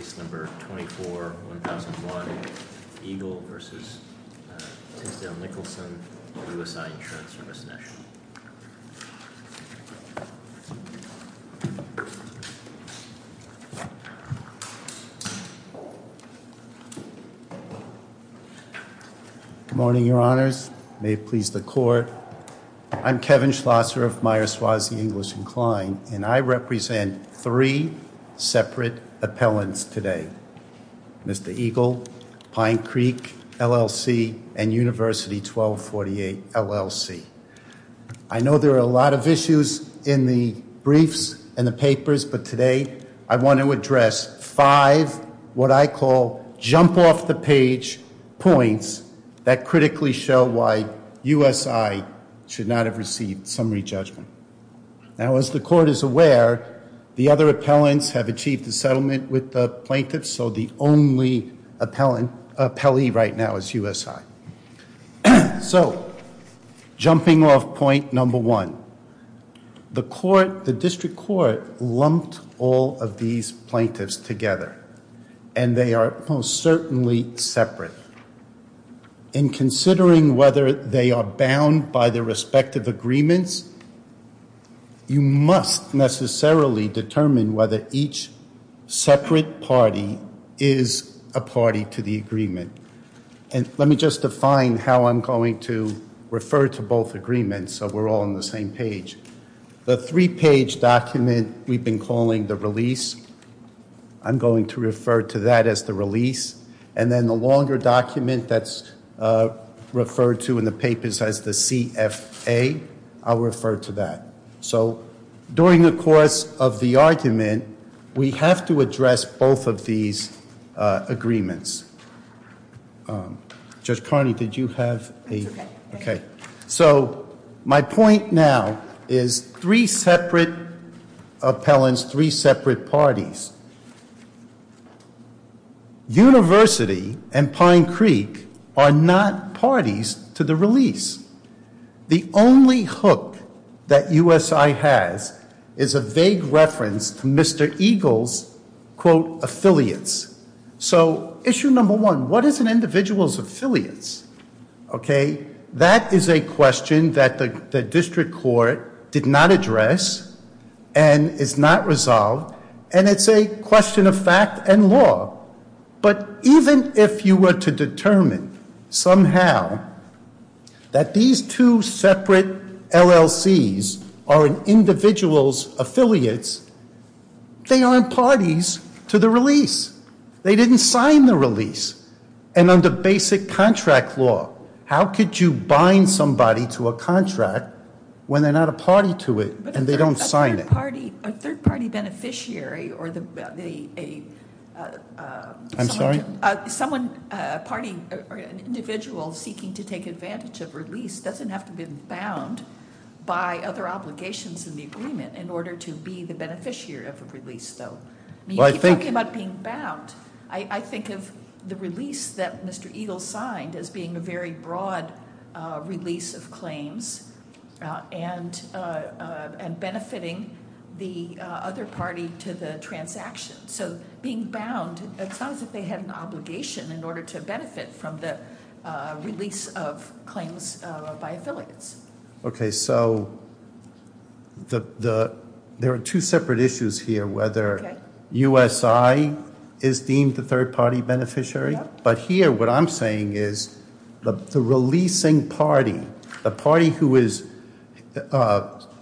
Case No. 24-1001, Eagle v. Tinsdale-Nicholson, USI Insurance Service National. Good morning, Your Honors. May it please the Court. I'm Kevin Schlosser of Meyers-Swassey English & Kline, and I represent three separate appellants today. Mr. Eagle, Pine Creek LLC, and University 1248, LLC. I know there are a lot of issues in the briefs and the papers, but today I want to address five, what I call, jump-off-the-page points that critically show why USI should not have received summary judgment. Now, as the Court is aware, the other appellants have achieved a settlement with the plaintiffs, so the only appellee right now is USI. So, jumping off point number one, the District Court lumped all of these plaintiffs together, and they are most certainly separate. In considering whether they are bound by their respective agreements, you must necessarily determine whether each separate party is a party to the agreement. And let me just define how I'm going to refer to both agreements so we're all on the same page. The three-page document we've been calling the release, I'm going to refer to that as the release, and then the longer document that's referred to in the papers as the CFA, I'll refer to that. So, during the course of the argument, we have to address both of these agreements. Judge Carney, did you have a- So, my point now is three separate appellants, three separate parties. University and Pine Creek are not parties to the release. The only hook that USI has is a vague reference to Mr. Eagle's, quote, affiliates. So, issue number one, what is an individual's affiliates? Okay, that is a question that the District Court did not address and is not resolved, and it's a question of fact and law. But even if you were to determine somehow that these two separate LLCs are an individual's affiliates, they aren't parties to the release. They didn't sign the release, and under basic contract law, how could you bind somebody to a contract when they're not a party to it and they don't sign it? A third party beneficiary or the- I'm sorry? Someone, a party, or an individual seeking to take advantage of release doesn't have to be bound by other obligations in the agreement in order to be the beneficiary of a release, though. When you keep talking about being bound, I think of the release that Mr. Eagle signed as being a very broad release of claims and benefiting the other party to the transaction. So, being bound, it's not as if they had an obligation in order to benefit from the release of claims by affiliates. Okay, so there are two separate issues here, whether- Okay. USI is deemed the third party beneficiary. Yeah. But here, what I'm saying is the releasing party, the party who is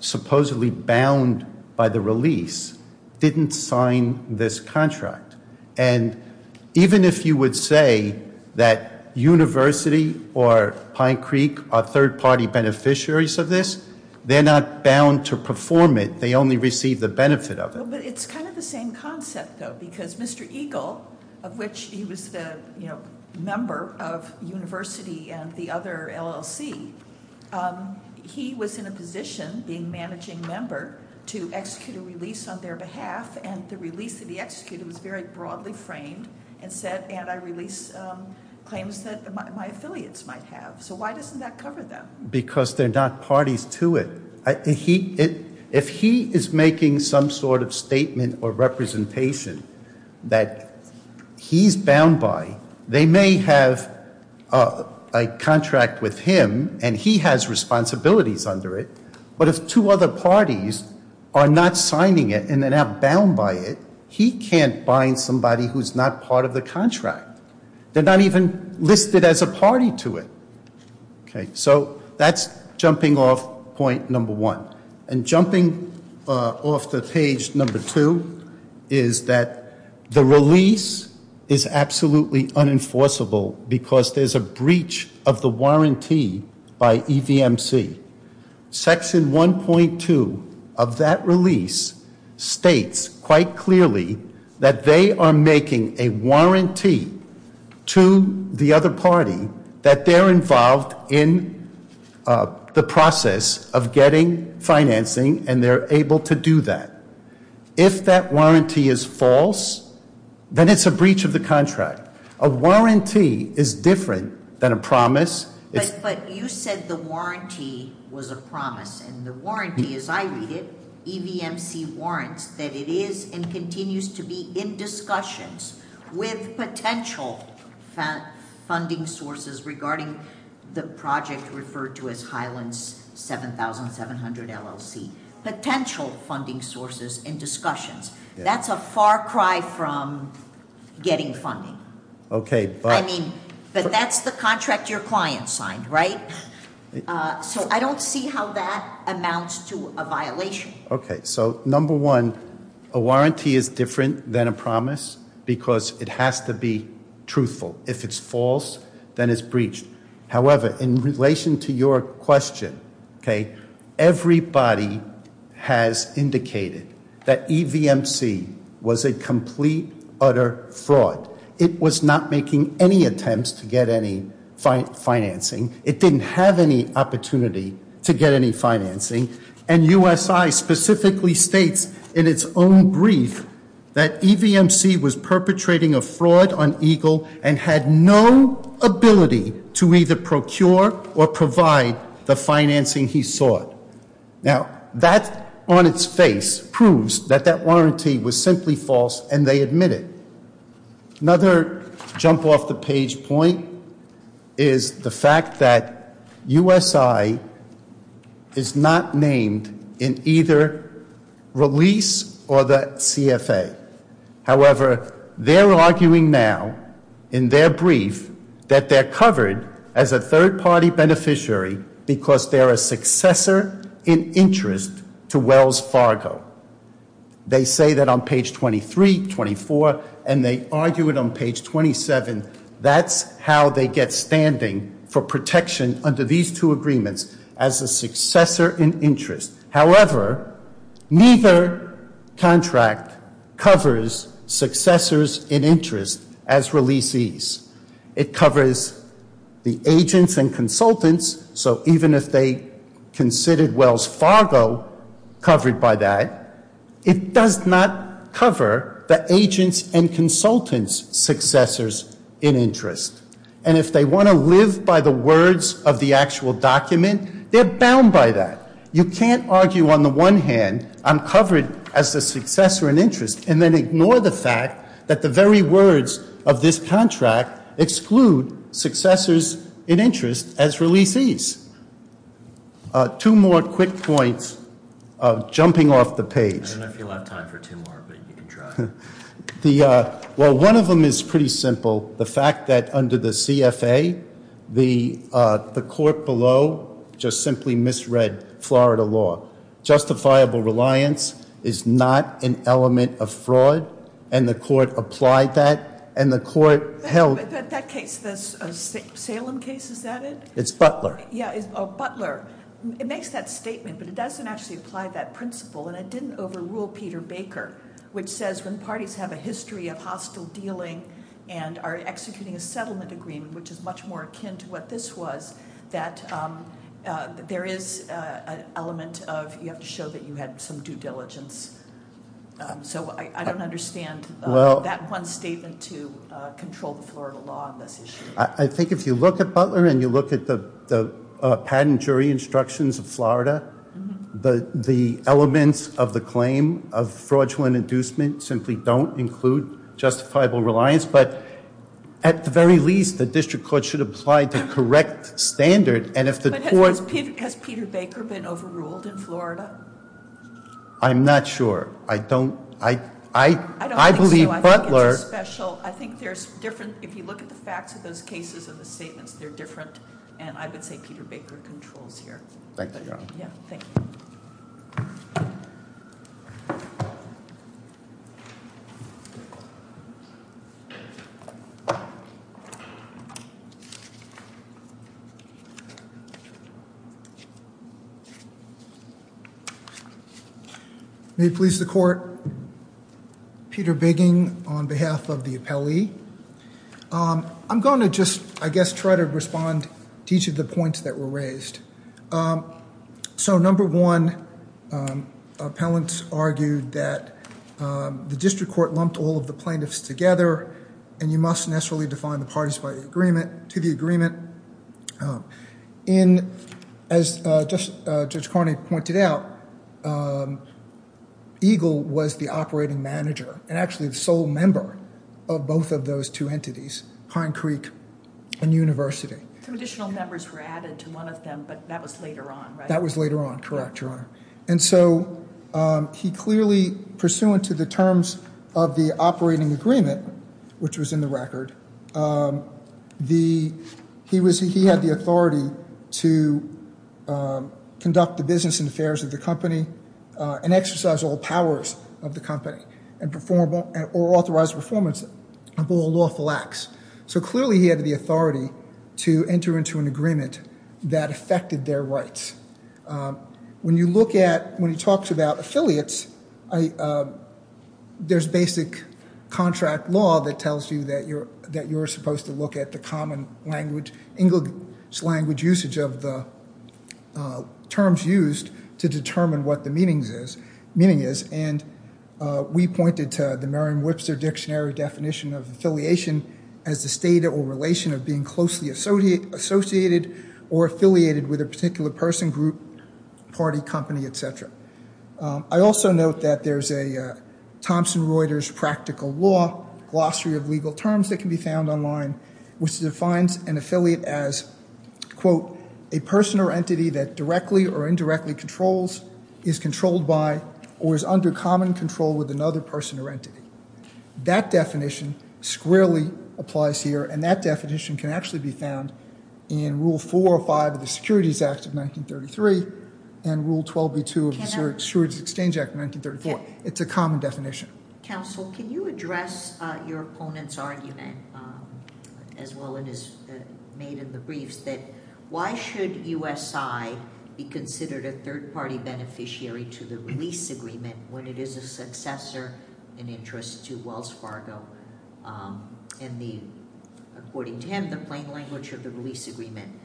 supposedly bound by the release, didn't sign this contract. And even if you would say that University or Pine Creek are third party beneficiaries of this, they're not bound to perform it. They only receive the benefit of it. But it's kind of the same concept, though, because Mr. Eagle, of which he was the member of University and the other LLC, he was in a position, being managing member, to execute a release on their behalf, and the release that he executed was very broadly framed and said, and I release claims that my affiliates might have. So why doesn't that cover them? Because they're not parties to it. If he is making some sort of statement or representation that he's bound by, they may have a contract with him and he has responsibilities under it. But if two other parties are not signing it and they're not bound by it, he can't bind somebody who's not part of the contract. They're not even listed as a party to it. Okay, so that's jumping off point number one. And jumping off to page number two is that the release is absolutely unenforceable because there's a breach of the warranty by EVMC. Section 1.2 of that release states quite clearly that they are making a warranty to the other party that they're involved in the process of getting financing, and they're able to do that. If that warranty is false, then it's a breach of the contract. A warranty is different than a promise. But you said the warranty was a promise. And the warranty, as I read it, EVMC warrants, that it is and continues to be in discussions with potential funding sources regarding the project referred to as Highlands 7700 LLC, potential funding sources in discussions. That's a far cry from getting funding. But that's the contract your client signed, right? So I don't see how that amounts to a violation. Okay, so number one, a warranty is different than a promise because it has to be truthful. If it's false, then it's breached. However, in relation to your question, okay, everybody has indicated that EVMC was a complete, utter fraud. It was not making any attempts to get any financing. It didn't have any opportunity to get any financing. And USI specifically states in its own brief that EVMC was perpetrating a fraud on Eagle and had no ability to either procure or provide the financing he sought. Now, that on its face proves that that warranty was simply false, and they admit it. Another jump off the page point is the fact that USI is not named in either release or the CFA. However, they're arguing now in their brief that they're covered as a third-party beneficiary because they're a successor in interest to Wells Fargo. They say that on page 23, 24, and they argue it on page 27. That's how they get standing for protection under these two agreements, as a successor in interest. However, neither contract covers successors in interest as releasees. It covers the agents and consultants. So even if they considered Wells Fargo covered by that, it does not cover the agents and consultants' successors in interest. And if they want to live by the words of the actual document, they're bound by that. You can't argue on the one hand, I'm covered as a successor in interest, and then ignore the fact that the very words of this contract exclude successors in interest as releasees. Two more quick points jumping off the page. I don't know if you'll have time for two more, but you can try. Well, one of them is pretty simple, the fact that under the CFA, the court below just simply misread Florida law. Justifiable reliance is not an element of fraud, and the court applied that, and the court held- That case, the Salem case, is that it? It's Butler. Yeah, it's Butler. It makes that statement, but it doesn't actually apply that principle, and it didn't overrule Peter Baker, which says when parties have a history of hostile dealing and are executing a settlement agreement, which is much more akin to what this was, that there is an element of you have to show that you had some due diligence. So I don't understand that one statement to control the Florida law on this issue. I think if you look at Butler and you look at the patent jury instructions of Florida, the elements of the claim of fraudulent inducement simply don't include justifiable reliance. But at the very least, the district court should apply the correct standard, and if the court- But has Peter Baker been overruled in Florida? I'm not sure. I don't- I don't think so. I believe Butler- I think it's a special- I think there's different- If you look at the facts of those cases and the statements, they're different, and I would say Peter Baker controls here. Thank you, Your Honor. Yeah, thank you. Thank you. May it please the court, Peter Bigging on behalf of the appellee. I'm going to just, I guess, try to respond to each of the points that were raised. So number one, appellants argued that the district court lumped all of the plaintiffs together, and you must necessarily define the parties by agreement, to the agreement. And as Judge Carney pointed out, Eagle was the operating manager and actually the sole member of both of those two entities, Pine Creek and University. Some additional members were added to one of them, but that was later on, right? That was later on, correct, Your Honor. And so he clearly, pursuant to the terms of the operating agreement, which was in the record, he had the authority to conduct the business and affairs of the company and exercise all powers of the company and perform or authorize performance of all lawful acts. So clearly he had the authority to enter into an agreement that affected their rights. When you look at, when he talks about affiliates, there's basic contract law that tells you that you're supposed to look at the common language, English language usage of the terms used to determine what the meaning is. And we pointed to the Merriam-Webster dictionary definition of affiliation as the state or relation of being closely associated or affiliated with a particular person, group, party, company, et cetera. I also note that there's a Thomson Reuters practical law glossary of legal terms that can be found online, which defines an affiliate as, quote, a person or entity that directly or indirectly controls, is controlled by, or is under common control with another person or entity. That definition squarely applies here, and that definition can actually be found in Rule 405 of the Securities Act of 1933 and Rule 12b-2 of the Securities Exchange Act of 1934. It's a common definition. Counsel, can you address your opponent's argument, as well as made in the briefs, that why should USI be considered a third-party beneficiary to the release agreement when it is a successor in interest to Wells Fargo? And according to him, the plain language of the release agreement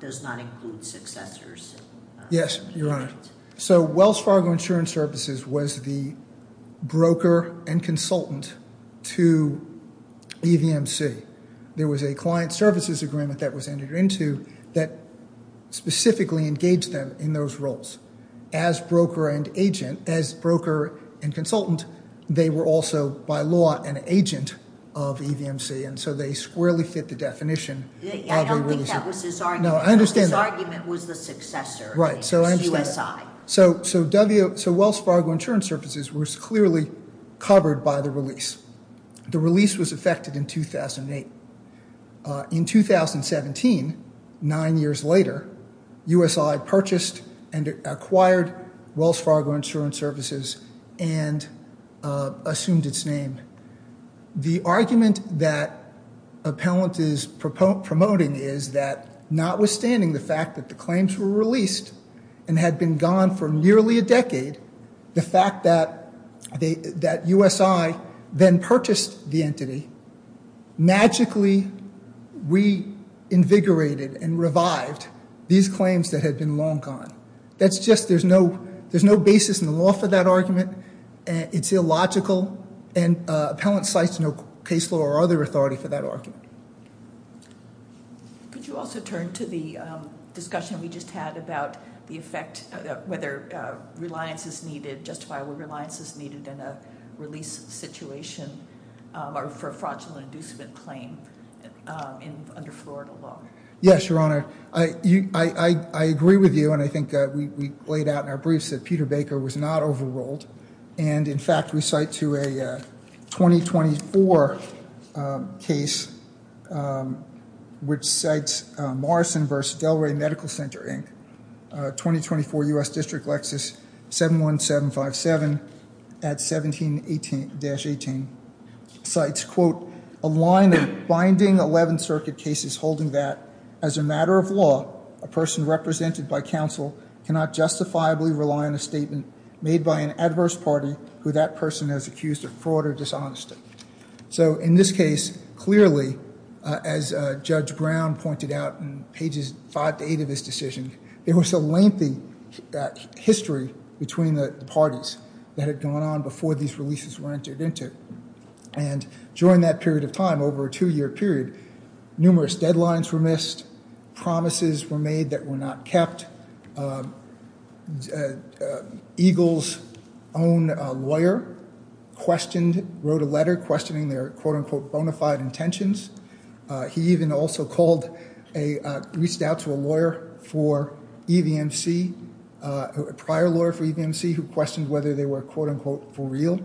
does not include successors. Yes, Your Honor. So Wells Fargo Insurance Services was the broker and consultant to EVMC. There was a client services agreement that was entered into that specifically engaged them in those roles. As broker and consultant, they were also, by law, an agent of EVMC, and so they squarely fit the definition of a release agreement. I don't think that was his argument. No, I understand that. His argument was the successor, USI. So Wells Fargo Insurance Services was clearly covered by the release. The release was effected in 2008. In 2017, nine years later, USI purchased and acquired Wells Fargo Insurance Services and assumed its name. The argument that Appellant is promoting is that notwithstanding the fact that the claims were released and had been gone for nearly a decade, the fact that USI then purchased the entity magically reinvigorated and revived these claims that had been long gone. That's just there's no basis in the law for that argument. It's illogical, and Appellant cites no case law or other authority for that argument. Could you also turn to the discussion we just had about the effect, whether reliance is needed, justifiable reliance is needed in a release situation or for a fraudulent inducement claim under Florida law? Yes, Your Honor. I agree with you, and I think we laid out in our briefs that Peter Baker was not overruled. And, in fact, we cite to a 2024 case, which cites Morrison v. Delray Medical Center, Inc., 2024 U.S. District Lexus 71757 at 17-18, cites, quote, a line of binding 11th Circuit cases holding that, as a matter of law, a person represented by counsel cannot justifiably rely on a statement made by an adverse party who that person has accused of fraud or dishonesty. So, in this case, clearly, as Judge Brown pointed out in pages 5 to 8 of his decision, there was a lengthy history between the parties that had gone on before these releases were entered into. And during that period of time, over a two-year period, numerous deadlines were missed, promises were made that were not kept. Eagle's own lawyer wrote a letter questioning their, quote, unquote, bona fide intentions. He even also reached out to a lawyer for EVMC, a prior lawyer for EVMC, who questioned whether they were, quote, unquote, for real.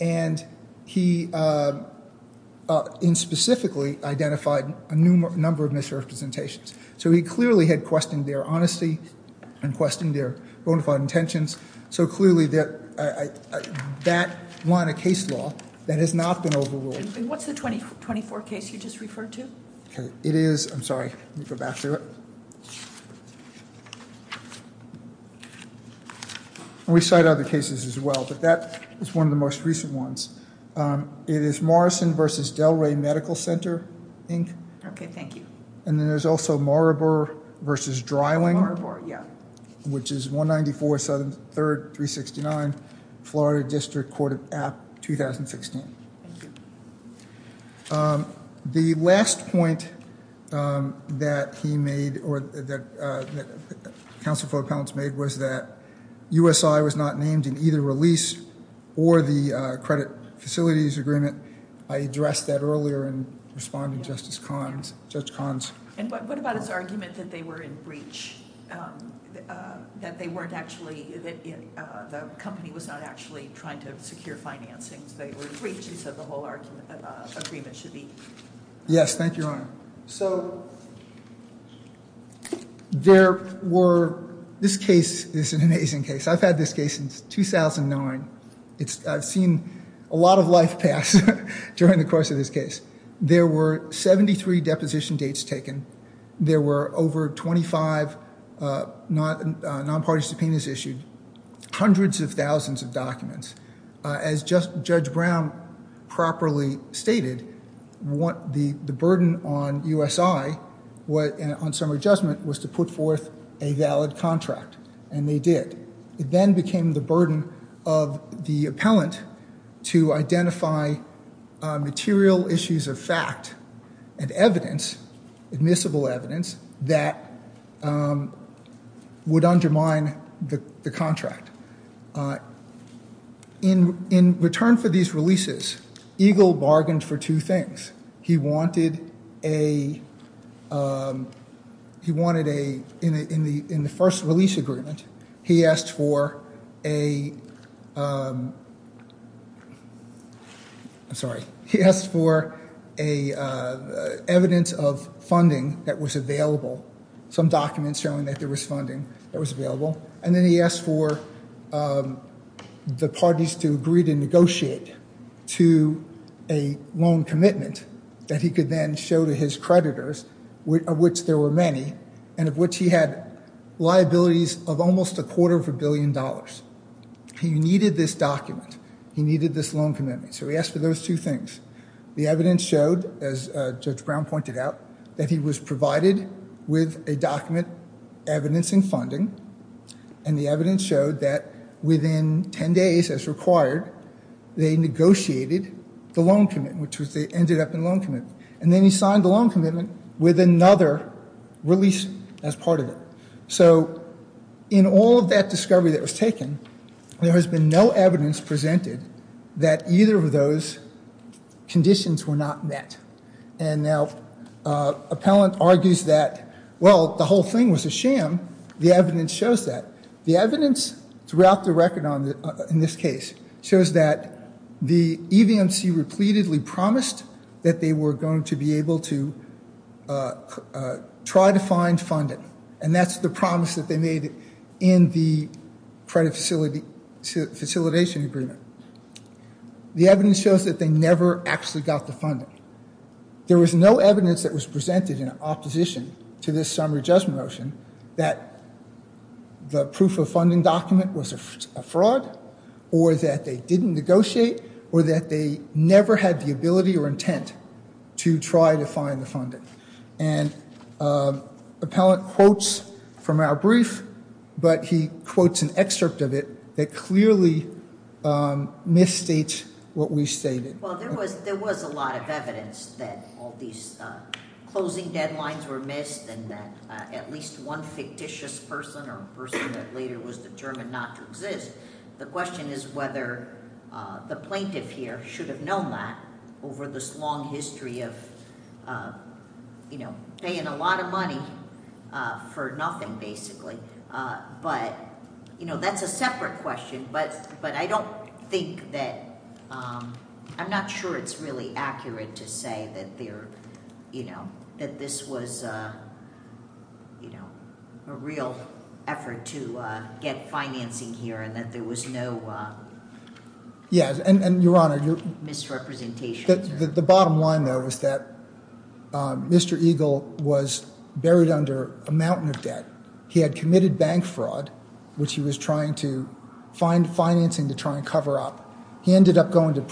And he specifically identified a number of misrepresentations. So he clearly had questioned their honesty and questioned their bona fide intentions. So, clearly, that line of case law that has not been overruled. And what's the 2024 case you just referred to? It is, I'm sorry, let me go back to it. We cite other cases as well, but that is one of the most recent ones. It is Morrison v. Delray Medical Center, Inc. Okay, thank you. And then there's also Maribor v. Dreiling. Maribor, yeah. Which is 194 Southern 3rd, 369, Florida District Court of App, 2016. Thank you. The last point that he made, or that Counsel for Appellants made, was that USI was not named in either release or the credit facilities agreement. I addressed that earlier in responding to Justice Cahn's, Judge Cahn's. And what about his argument that they were in breach, that they weren't actually, that the company was not actually trying to secure financing? He said the whole agreement should be. Yes, thank you, Your Honor. So, there were, this case is an amazing case. I've had this case since 2009. I've seen a lot of life pass during the course of this case. There were 73 deposition dates taken. There were over 25 non-party subpoenas issued. Hundreds of thousands of documents. As Judge Brown properly stated, the burden on USI, on summary judgment, was to put forth a valid contract, and they did. It then became the burden of the appellant to identify material issues of fact and evidence, admissible evidence, that would undermine the contract. In return for these releases, Eagle bargained for two things. He wanted a, he wanted a, in the first release agreement, he asked for a, I'm sorry, he asked for evidence of funding that was available. Some documents showing that there was funding that was available. And then he asked for the parties to agree to negotiate to a loan commitment that he could then show to his creditors, of which there were many, and of which he had liabilities of almost a quarter of a billion dollars. He needed this document. He needed this loan commitment. So, he asked for those two things. The evidence showed, as Judge Brown pointed out, that he was provided with a document evidencing funding, and the evidence showed that within ten days, as required, they negotiated the loan commitment, which was they ended up in a loan commitment. And then he signed the loan commitment with another release as part of it. So, in all of that discovery that was taken, there has been no evidence presented that either of those conditions were not met. And now Appellant argues that, well, the whole thing was a sham. The evidence shows that. The evidence throughout the record in this case shows that the EVMC repeatedly promised that they were going to be able to try to find funding, and that's the promise that they made in the credit facilitation agreement. The evidence shows that they never actually got the funding. There was no evidence that was presented in opposition to this summary judgment motion that the proof of funding document was a fraud, or that they didn't negotiate, or that they never had the ability or intent to try to find the funding. And Appellant quotes from our brief, but he quotes an excerpt of it that clearly misstates what we stated. Well, there was a lot of evidence that all these closing deadlines were missed and that at least one fictitious person or person that later was determined not to exist. The question is whether the plaintiff here should have known that over this long history of paying a lot of money for nothing, basically. But that's a separate question, but I don't think that I'm not sure it's really accurate to say that this was a real effort to get financing here and that there was no misrepresentation. The bottom line, though, is that Mr. Eagle was buried under a mountain of debt. He had committed bank fraud, which he was trying to find financing to try and cover up. He ended up going to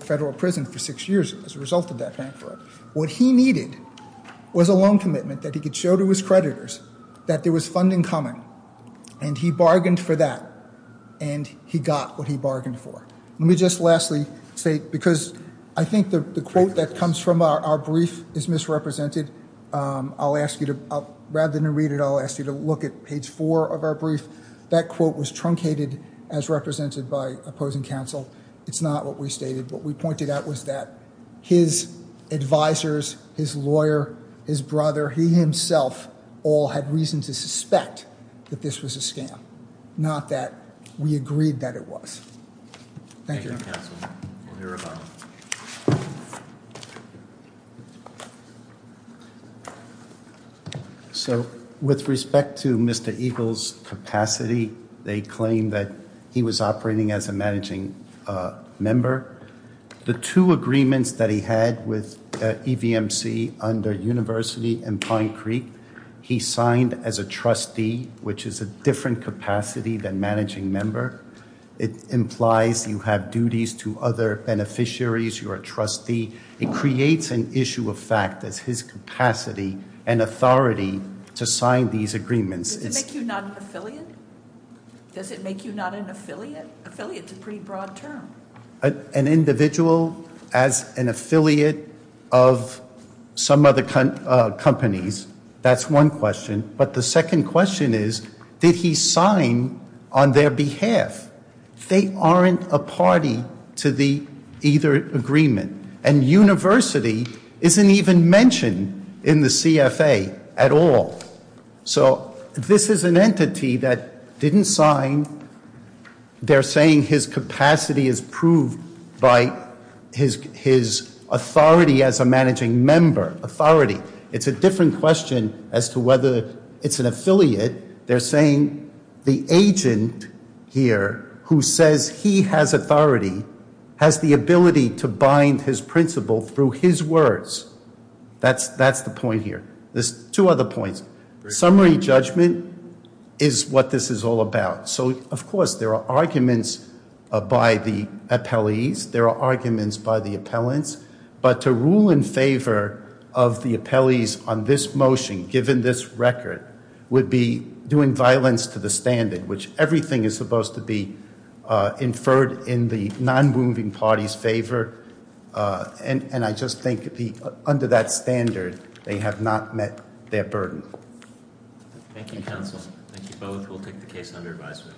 federal prison for six years as a result of that bank fraud. What he needed was a loan commitment that he could show to his creditors that there was funding coming, and he bargained for that, and he got what he bargained for. Let me just lastly say, because I think the quote that comes from our brief is misrepresented. Rather than read it, I'll ask you to look at page four of our brief. That quote was truncated as represented by opposing counsel. It's not what we stated. What we pointed out was that his advisors, his lawyer, his brother, he himself, all had reason to suspect that this was a scam, not that we agreed that it was. Thank you. So with respect to Mr. Eagle's capacity, they claim that he was operating as a managing member. The two agreements that he had with EVMC under University and Pine Creek, he signed as a trustee, which is a different capacity than managing member. It implies you have duties to other beneficiaries. You are a trustee. It creates an issue of fact as his capacity and authority to sign these agreements. Does it make you not an affiliate? Does it make you not an affiliate? Affiliate's a pretty broad term. An individual as an affiliate of some other companies, that's one question. But the second question is, did he sign on their behalf? They aren't a party to either agreement. And University isn't even mentioned in the CFA at all. So this is an entity that didn't sign. They're saying his capacity is proved by his authority as a managing member, authority. It's a different question as to whether it's an affiliate. They're saying the agent here who says he has authority has the ability to bind his principle through his words. That's the point here. There's two other points. Summary judgment is what this is all about. So, of course, there are arguments by the appellees. There are arguments by the appellants. But to rule in favor of the appellees on this motion, given this record, would be doing violence to the standard, which everything is supposed to be inferred in the non-moving party's favor. And I just think under that standard, they have not met their burden. Thank you, counsel. Thank you both. We'll take the case under advisement.